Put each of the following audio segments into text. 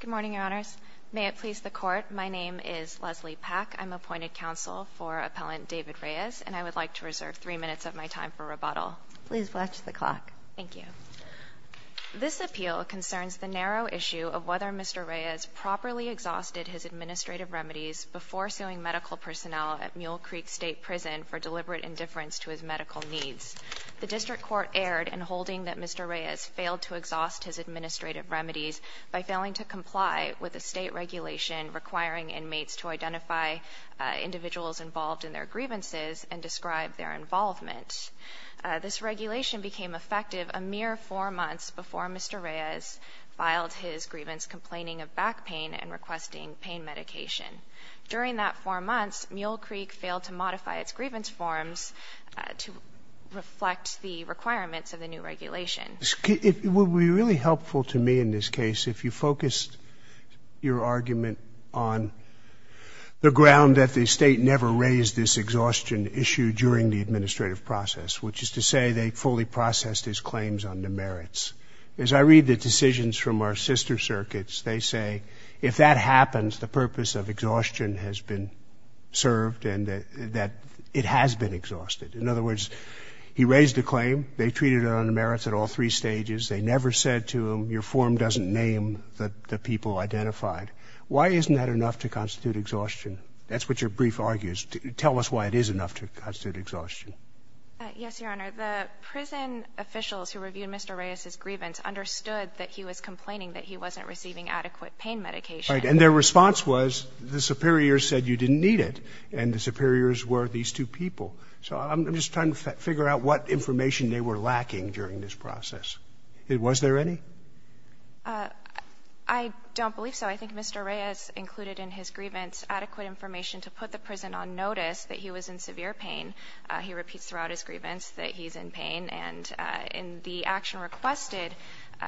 Good morning, Your Honors. May it please the Court, my name is Leslie Pack. I'm appointed counsel for Appellant David Reyes, and I would like to reserve three minutes of my time for rebuttal. Please watch the clock. Thank you. This appeal concerns the narrow issue of whether Mr. Reyes properly exhausted his administrative remedies before suing medical personnel at Mule Creek State Prison for deliberate indifference to his medical needs. The district court erred in holding that Mr. Reyes failed to exhaust his administrative remedies by failing to comply with a state regulation requiring inmates to identify individuals involved in their grievances and describe their involvement. This regulation became effective a mere four months before Mr. Reyes filed his grievance complaining of back pain and requesting pain medication. During that four months, Mule Creek failed to modify its grievance forms to reflect the requirements of the new regulation. It would be really helpful to me in this case if you focused your argument on the ground that the state never raised this exhaustion issue during the administrative process, which is to say they fully processed his claims under merits. As I read the decisions from our sister circuits, they say if that happens, the purpose of exhaustion has been served and that it has been exhausted. In other words, he raised a claim, they treated it under merits at all three stages, they never said to him, your form doesn't name the people identified. Why isn't that enough to constitute exhaustion? That's what your brief argues. Tell us why it is enough to constitute exhaustion. Yes, Your Honor. The prison officials who reviewed Mr. Reyes's grievance understood that he was complaining that he wasn't receiving adequate pain medication. Right. And their response was the superiors said you didn't need it and the superiors were these two people. So I'm just trying to figure out what information they were lacking during this process. Was there any? I don't believe so. I think Mr. Reyes included in his grievance adequate information to put the prison on notice that he was in severe pain. He repeats throughout his grievance that he's in pain and in the action requested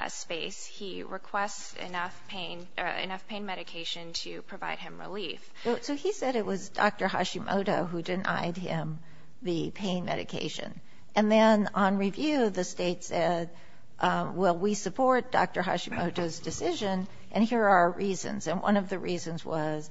space, he requests enough pain medication to provide him relief. So he said it was Dr. Hashimoto who denied him the pain medication. And then on review, the state said, well, we support Dr. Hashimoto's decision and here are our reasons. And one of the reasons was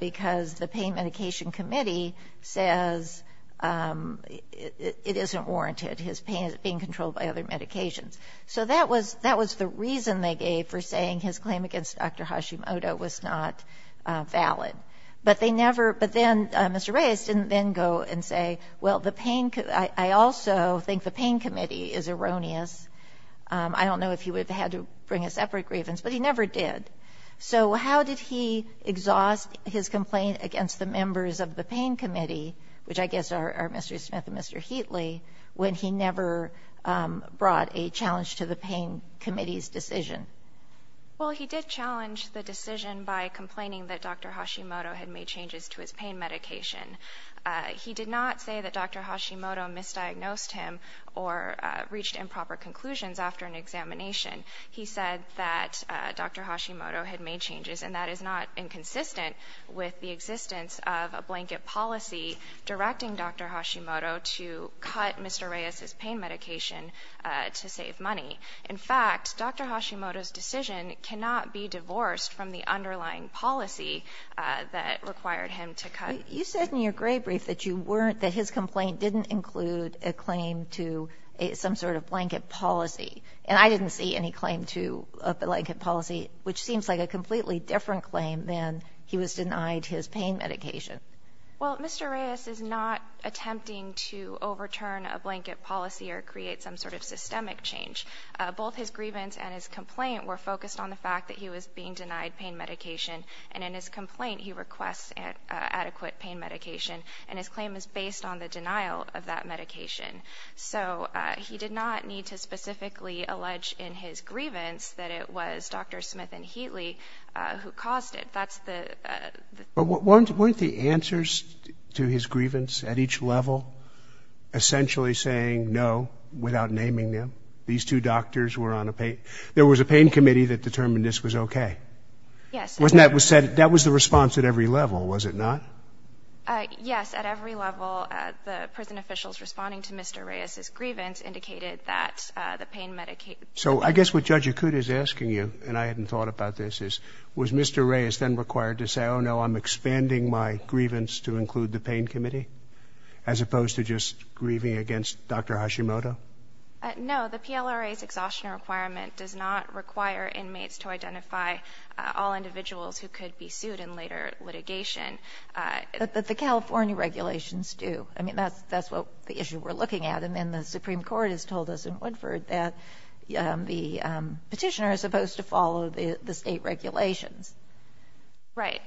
because the pain medication committee says it isn't worth it. It's not warranted. His pain is being controlled by other medications. So that was the reason they gave for saying his claim against Dr. Hashimoto was not valid. But they never, but then Mr. Reyes didn't then go and say, well, the pain, I also think the pain committee is erroneous. I don't know if he would have had to bring a separate grievance, but he never did. So how did he exhaust his complaint against the members of the pain committee, which I guess are Mr. Smith and Mr. Heatley, when he never brought a challenge to the pain committee's decision? Well, he did challenge the decision by complaining that Dr. Hashimoto had made changes to his pain medication. He did not say that Dr. Hashimoto misdiagnosed him or reached improper conclusions after an examination. He said that Dr. Hashimoto had made changes and that is not inconsistent with the existence of a blanket policy directing Dr. Hashimoto to cut Mr. Reyes's pain medication to save money. In fact, Dr. Hashimoto's decision cannot be divorced from the underlying policy that required him to cut. You said in your gray brief that you weren't, that his complaint didn't include a claim to some sort of blanket policy. And I didn't see any claim to a blanket policy, which seems like a completely different claim than he was denied his pain medication. Well, Mr. Reyes is not attempting to overturn a blanket policy or create some sort of systemic change. Both his grievance and his complaint were focused on the fact that he was being denied pain medication. And in his complaint, he requests adequate pain medication and his claim is based on the denial of that medication. So he did not need to specifically allege in his grievance that it was Dr. Smith and Heatley who caused it. That's the... But weren't, weren't the answers to his grievance at each level essentially saying no without naming them? These two doctors were on a pain, there was a pain committee that determined this was okay. Yes. Wasn't that what was said? That was the response at every level, was it not? Yes. At every level, the prison officials responding to Mr. Reyes's grievance indicated that the pain medication... So I guess what Judge Akuta is asking you, and I hadn't thought about this, is was Mr. Reyes then required to say, oh no, I'm expanding my grievance to include the pain committee as opposed to just grieving against Dr. Hashimoto? No, the PLRA's exhaustion requirement does not require inmates to identify all individuals who could be sued in later litigation. The California regulations do. I mean, that's, that's what the issue we're looking at. And the Supreme Court has told us in Woodford that the petitioner is supposed to follow the state regulations. Right.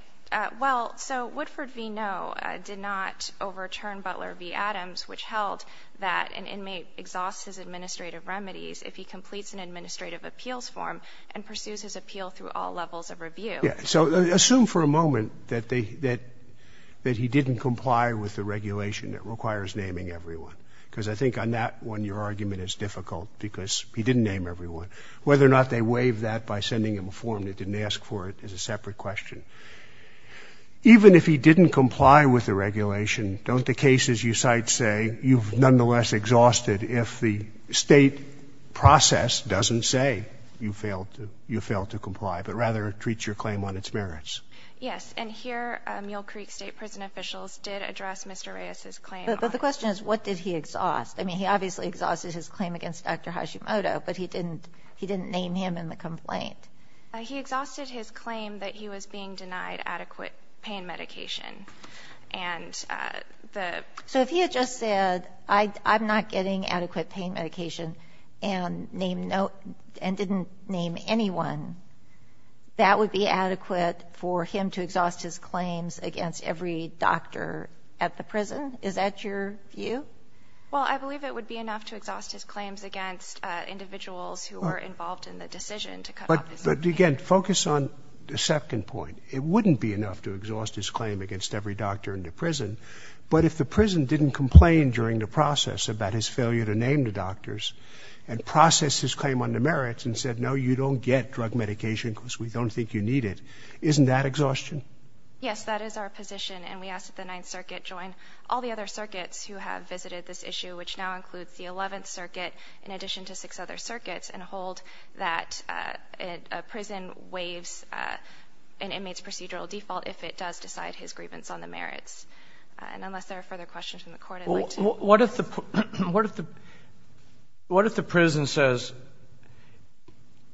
Well, so Woodford v. No did not overturn Butler v. Adams, which held that an inmate exhausts his administrative remedies if he completes an administrative appeals form and pursues his appeal through all levels of review. Yeah. So assume for a moment that they, that, that he didn't comply with the regulation that requires naming everyone. Because I think on that one, your argument is difficult because he didn't name everyone. Whether or not they waived that by sending him a form that didn't ask for it is a separate question. Even if he didn't comply with the regulation, don't the cases you cite say you've nonetheless exhausted if the state process doesn't say you failed to, you failed to comply, but rather treats your claim on its merits? Yes. And here, Mule Creek State Prison officials did address Mr. Reyes's claim. But the question is, what did he exhaust? I mean, he obviously exhausted his claim against Dr. Hashimoto, but he didn't, he didn't name him in the complaint. He exhausted his claim that he was being denied adequate pain medication. And the... So if he had just said, I, I'm not getting adequate pain medication and named no, and didn't name anyone, that would be adequate for him to exhaust his claims against every doctor at the prison? Is that your view? Well, I believe it would be enough to exhaust his claims against individuals who were involved in the decision to cut off his pain medication. But again, focus on the second point. It wouldn't be enough to exhaust his claim against every doctor in the prison. But if the prison didn't complain during the process about his failure to name the doctors and process his claim on the merits and said, no, you don't get drug medication because we don't think you need it. Isn't that exhaustion? Yes, that is our position. And we ask that the Ninth Circuit join all the other circuits who have visited this issue, which now includes the Eleventh Circuit, in addition to six other circuits, and hold that a prison waives an inmate's procedural default if it does decide his grievance on the merits. And unless there are further questions from the Court, I'd like to... What if the prison says,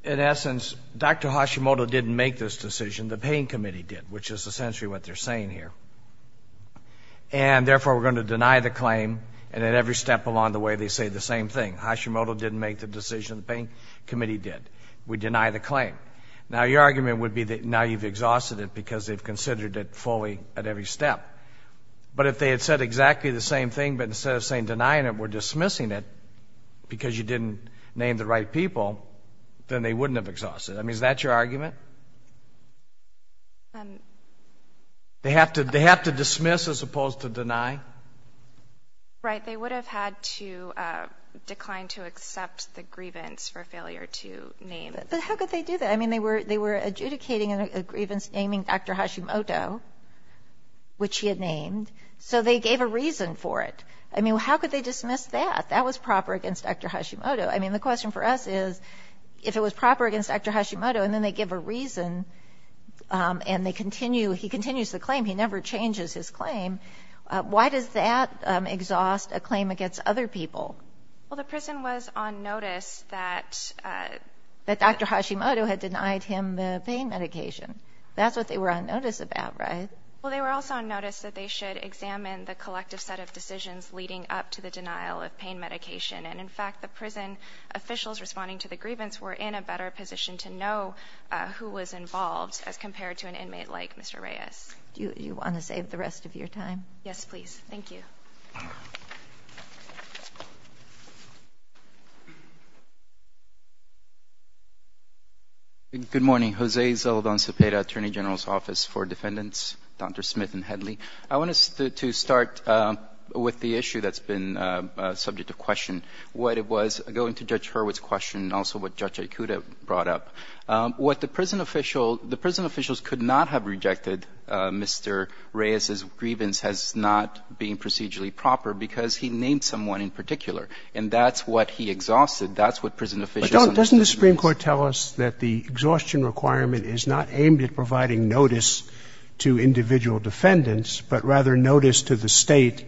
in essence, Dr. Hashimoto didn't make this decision, the Pain Committee did, which is essentially what they're saying here. And therefore, we're going to deny the claim and at every step along the way they say the same thing. Hashimoto didn't make the decision, the Pain Committee did. We deny the claim. Now, your argument would be that now you've exhausted it because they've considered it fully at every step. But if they had said exactly the same thing, but instead of saying, denying it, we're dismissing it because you didn't name the right people, then they wouldn't have exhausted it. I mean, is that your argument? They have to dismiss as opposed to deny? Right. They would have had to decline to accept the grievance for failure to name it. But how could they do that? I mean, they were adjudicating a grievance naming Dr. Hashimoto, which he had named, so they gave a reason for it. I mean, how could they dismiss that? That was proper against Dr. Hashimoto. I mean, the question for us is, if it was proper against Dr. Hashimoto and then they give a reason and he continues the claim, he never changes his claim, why does that exhaust a claim against other people? Well, the prison was on notice that... That Dr. Hashimoto had denied him the pain medication. That's what they were on notice about, right? Well, they were also on notice that they should examine the collective set of decisions leading up to the denial of pain medication. And in fact, the prison officials responding to the grievance were in a better position to know who was involved as compared to an inmate like Mr. Reyes. Do you want to save the rest of your time? Yes, please. Thank you. Good morning. Jose Zeldon Cepeda, Attorney General's Office for Defendants, Dr. Smith and Headlee. I wanted to start with the issue that's been subject to question, what it was going to Judge Hurwitz's question and also what Judge Aikuda brought up. What the prison official, the prison officials could not have rejected Mr. Reyes's grievance as not being procedurally proper because he named someone in particular. And that's what he exhausted. That's what prison officials... But doesn't the Supreme Court tell us that the exhaustion requirement is not aimed at providing notice to individual defendants, but rather notice to the state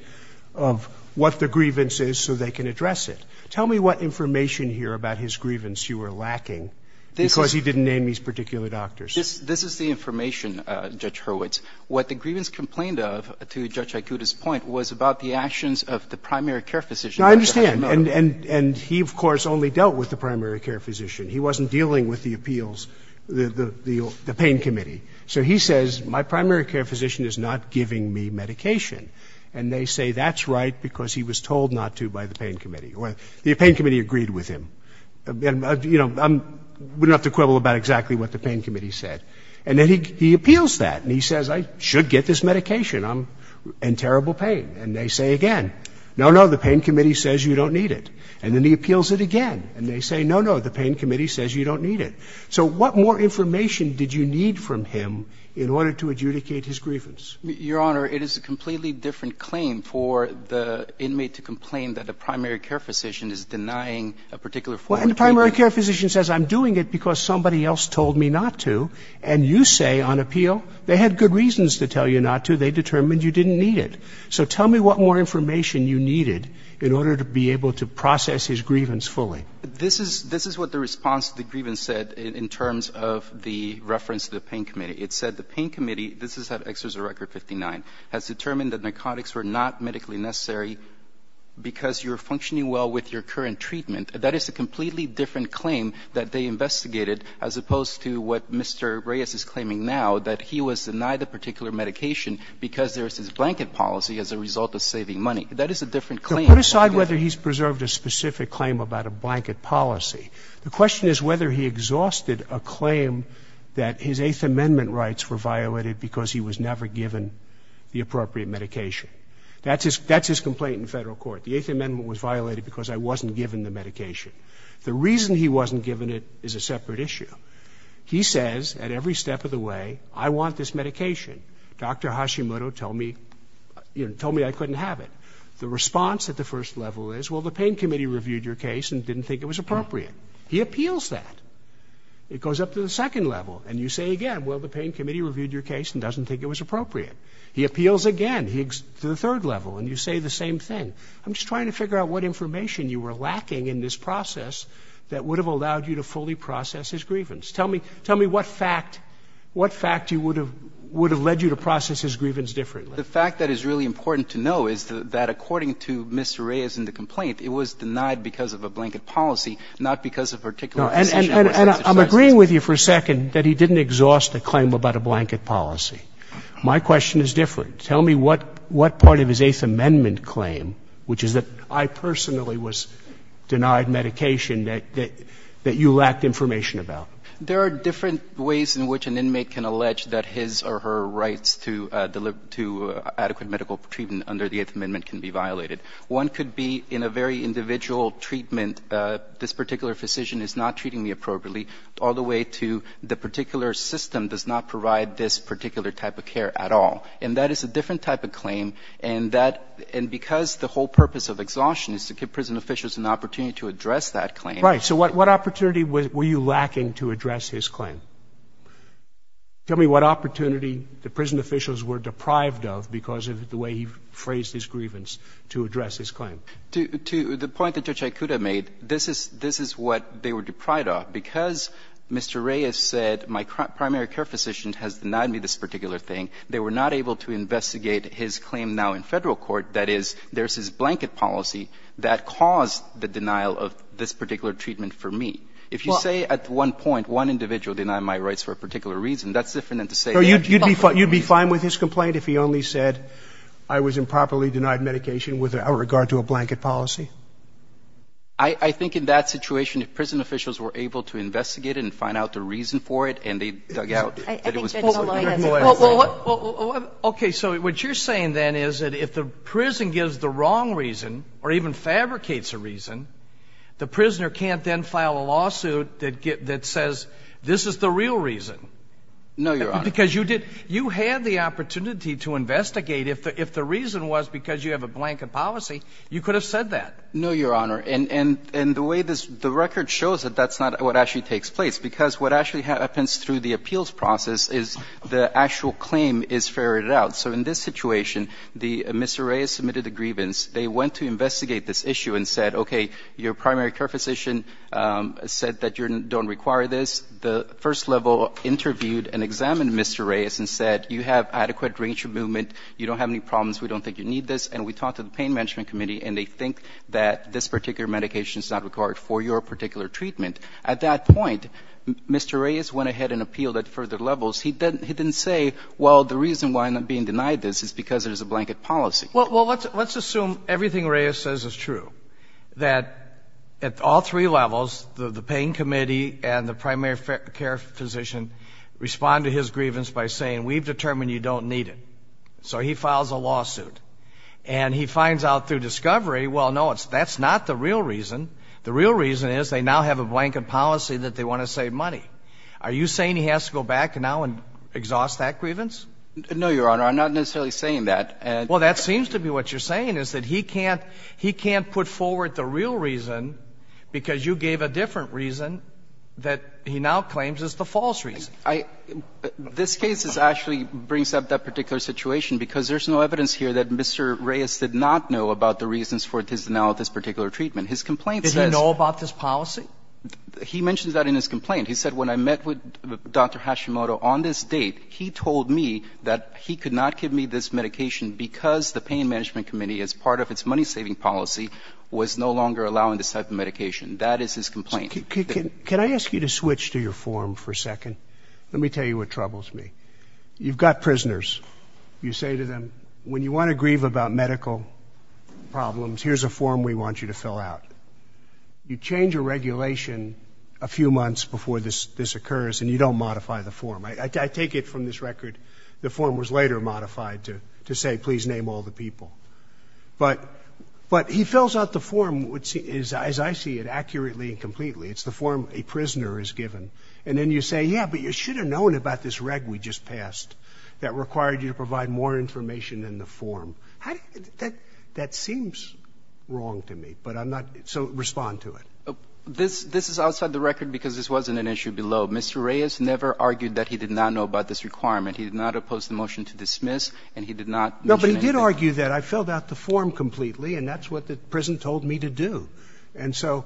of what the grievance is so they can address it? Tell me what information here about his grievance you were lacking because he didn't name these particular doctors. This is the information, Judge Hurwitz. What the grievance complained of, to Judge Aikuda's point, was about the actions of the primary care physician. No, I understand. And he, of course, only dealt with the primary care physician. He wasn't dealing with the appeals, the pain committee. So he says, my primary care physician is not giving me medication. And they say that's right because he was told not to by the pain committee. The pain committee agreed with him. You know, I'm not going to quibble about exactly what the pain committee said. And then he appeals that and he says, I should get this medication. I'm in terrible pain. And they say again, no, no, the pain committee says you don't need it. And then he appeals it again. And they say, no, no, the pain committee says you don't need it. So what more information did you need from him in order to adjudicate his grievance? Your Honor, it is a completely different claim for the inmate to complain that a primary care physician is denying a particular form of treatment. Well, and the primary care physician says I'm doing it because somebody else told me not to. And you say on appeal they had good reasons to tell you not to. They determined you didn't need it. So tell me what more information you needed in order to be able to process his grievance fully. This is this is what the response to the grievance said in terms of the reference to the pain committee. It said the pain committee, this is at Exeter's record 59, has determined that narcotics were not medically necessary because you're functioning well with your current treatment. That is a completely different claim that they investigated as opposed to what Mr. Reyes is claiming now, that he was denied a particular medication because there is this blanket policy as a result of saving money. That is a different claim. Put aside whether he's preserved a specific claim about a blanket policy. The question is whether he exhausted a claim that his Eighth Amendment rights were violated because he was never given the appropriate medication. That's his complaint in Federal court. The Eighth Amendment was violated because I wasn't given the medication. The reason he wasn't given it is a separate issue. He says at every step of the way, I want this medication. Dr. Hashimoto told me, you know, told me I couldn't have it. The response at the first level is, well, the pain committee reviewed your case and didn't think it was appropriate. He appeals that. It goes up to the second level, and you say again, well, the pain committee reviewed your case and doesn't think it was appropriate. He appeals again, to the third level, and you say the same thing. I'm just trying to figure out what information you were lacking in this process that would have allowed you to fully process his grievance. Tell me what fact, what fact would have led you to process his grievance differently. The fact that is really important to know is that according to Mr. Reyes in the complaint, it was denied because of a blanket policy, not because of a particular condition. And I'm agreeing with you for a second that he didn't exhaust a claim about a blanket policy. My question is different. Tell me what part of his Eighth Amendment claim, which is that I personally was denied medication, that you lacked information about. There are different ways in which an inmate can allege that his or her rights to adequate medical treatment under the Eighth Amendment can be violated. One could be in a very individual treatment, this particular physician is not treating me appropriately, all the way to the particular system does not provide this particular type of care at all. And that is a different type of claim. And that and because the whole purpose of exhaustion is to give prison officials an opportunity to address that claim. Right. So what what opportunity were you lacking to address his claim? Tell me what opportunity the prison officials were deprived of because of the way he phrased his grievance to address his claim. To the point that Judge Aikuda made, this is this is what they were deprived of. Because Mr. Reyes said my primary care physician has denied me this particular thing, they were not able to investigate his claim now in federal court. That is, there's this blanket policy that caused the denial of this particular treatment for me. If you say at one point one individual denied my rights for a particular reason, that's different than to say you'd be fine with his complaint if he only said I was improperly denied medication without regard to a blanket policy. I think in that situation, if prison officials were able to investigate and find out the reason for it and they dug out that it was. Well, OK. So what you're saying then is that if the prison gives the wrong reason or even fabricates a reason, the prisoner can't then file a lawsuit that that says this is the real reason. No, Your Honor. Because you did you had the opportunity to investigate if the if the reason was because you have a blanket policy, you could have said that. No, Your Honor. And and and the way this the record shows that that's not what actually takes place, because what actually happens through the appeals process is the actual claim is ferreted out. So in this situation, the Mr. Reyes submitted a grievance. They went to investigate this issue and said, OK, your primary care physician said that you don't require this. The first level interviewed and examined Mr. Reyes and said you have adequate range of movement. You don't have any problems. We don't think you need this. And we talked to the pain management committee and they think that this particular medication is not required for your particular treatment. At that point, Mr. Reyes went ahead and appealed at further levels. He didn't he didn't say, well, the reason why I'm not being denied this is because it is a blanket policy. Well, well, let's let's assume everything Reyes says is true, that at all three levels, the pain committee and the primary care physician respond to his grievance by saying we've determined you don't need it. So he files a lawsuit and he finds out through discovery. Well, no, that's not the real reason. The real reason is they now have a blanket policy that they want to save money. Are you saying he has to go back now and exhaust that grievance? No, Your Honor. I'm not necessarily saying that. And well, that seems to be what you're saying is that he can't he can't put forward the real reason because you gave a different reason that he now claims is the false reason. I this case is actually brings up that particular situation because there's no evidence here that Mr. Reyes did not know about the reasons for his denial of this particular treatment. His complaint says he know about this policy. He mentions that in his complaint. He said, when I met with Dr. Hashimoto on this date, he told me that he could not give me this medication because the pain management committee, as part of its money saving policy, was no longer allowing this type of medication. That is his complaint. Can I ask you to switch to your form for a second? Let me tell you what troubles me. You've got prisoners. You say to them, when you want to grieve about medical problems, here's a form we want you to fill out. You change a regulation a few months before this this occurs and you don't modify the form. I take it from this record. The form was later modified to to say, please name all the people. But but he fills out the form, which is, as I see it, accurately and completely. It's the form a prisoner is given. And then you say, yeah, but you should have known about this reg we just passed that required you to provide more information than the form. How did that that seems wrong to me, but I'm not so respond to it. This this is outside the record because this wasn't an issue below. Mr. Reyes never argued that he did not know about this requirement. He did not oppose the motion to dismiss, and he did not know. But he did argue that I filled out the form completely, and that's what the prison told me to do. And so,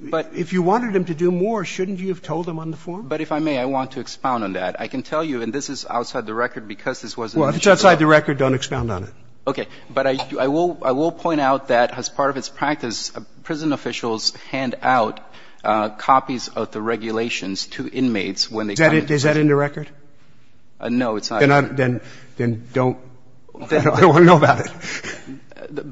but if you wanted him to do more, shouldn't you have told him on the form? But if I may, I want to expound on that. I can tell you, and this is outside the record because this was. Well, if it's outside the record, don't expound on it. Okay. But I will point out that as part of its practice, prison officials hand out copies of the regulations to inmates when they come in. Is that in the record? No, it's not. Then don't. I don't want to know about it.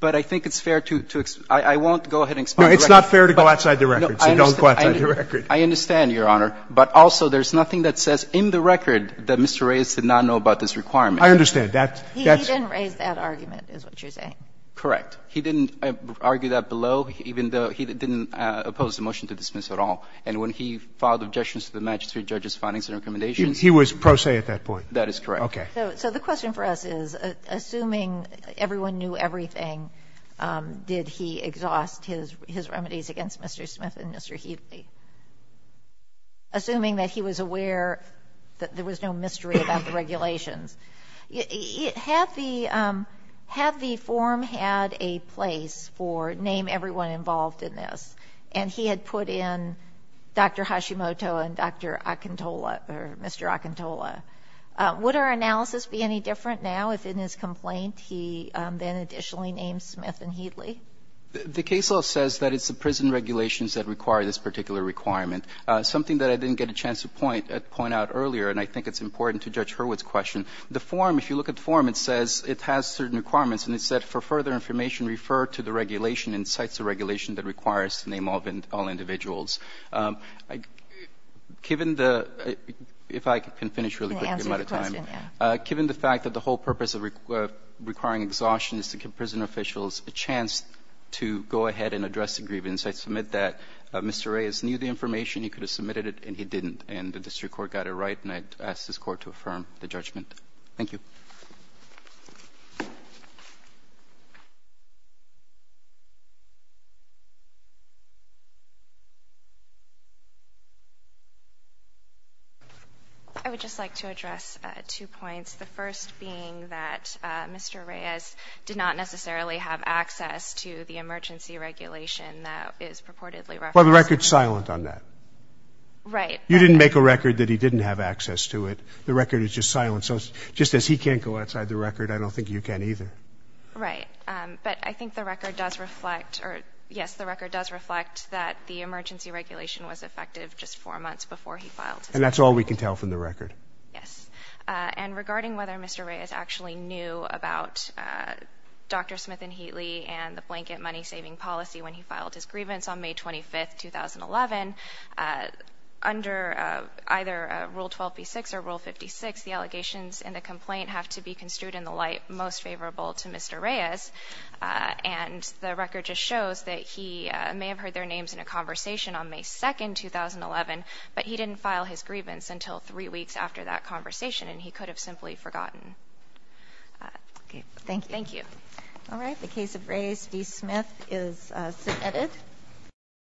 But I think it's fair to explain. I won't go ahead and explain. No, it's not fair to go outside the record, so don't go outside the record. I understand, Your Honor. But also, there's nothing that says in the record that Mr. Reyes did not know about this requirement. I understand. He didn't raise that argument, is what you're saying. Correct. He didn't argue that below, even though he didn't oppose the motion to dismiss at all. And when he filed objections to the magistrate judge's findings and recommendations He was pro se at that point. That is correct. Okay. So the question for us is, assuming everyone knew everything, did he exhaust his remedies against Mr. Smith and Mr. Headley, assuming that he was aware that there was no mystery about the regulations? Had the forum had a place for name everyone involved in this, and he had put in Dr. Hashimoto and Mr. Akintola, would our analysis be any different now if in his complaint he then additionally named Smith and Headley? The case law says that it's the prison regulations that require this particular requirement, something that I didn't get a chance to point out earlier, and I think it's important to Judge Hurwitz' question. The forum, if you look at the forum, it says it has certain requirements, and it said, for further information, refer to the regulation and cites the regulation that requires to name all individuals. Given the, if I can finish really quickly, given the fact that the whole purpose of requiring exhaustion is to give prison officials a chance to go ahead and address the grievance, I submit that Mr. Reyes knew the information, he could have I would just like to address two points, the first being that Mr. Reyes did not necessarily have access to the emergency regulation that is purportedly referenced. Well, the record's silent on that. Right. You didn't make a record that he didn't have access to it. The record is just silent. So just as he can't go outside the record, I don't think you can either. Right. But I think the record does reflect, or yes, the record does reflect that the emergency regulation was effective just four months before he filed. And that's all we can tell from the record. Yes. And regarding whether Mr. Reyes actually knew about Dr. Smith and Headley and the rule 12B6 or rule 56, the allegations in the complaint have to be construed in the light most favorable to Mr. Reyes. And the record just shows that he may have heard their names in a conversation on May 2nd, 2011, but he didn't file his grievance until three weeks after that conversation. And he could have simply forgotten. Thank you. All right. The case of Reyes v. Smith is submitted.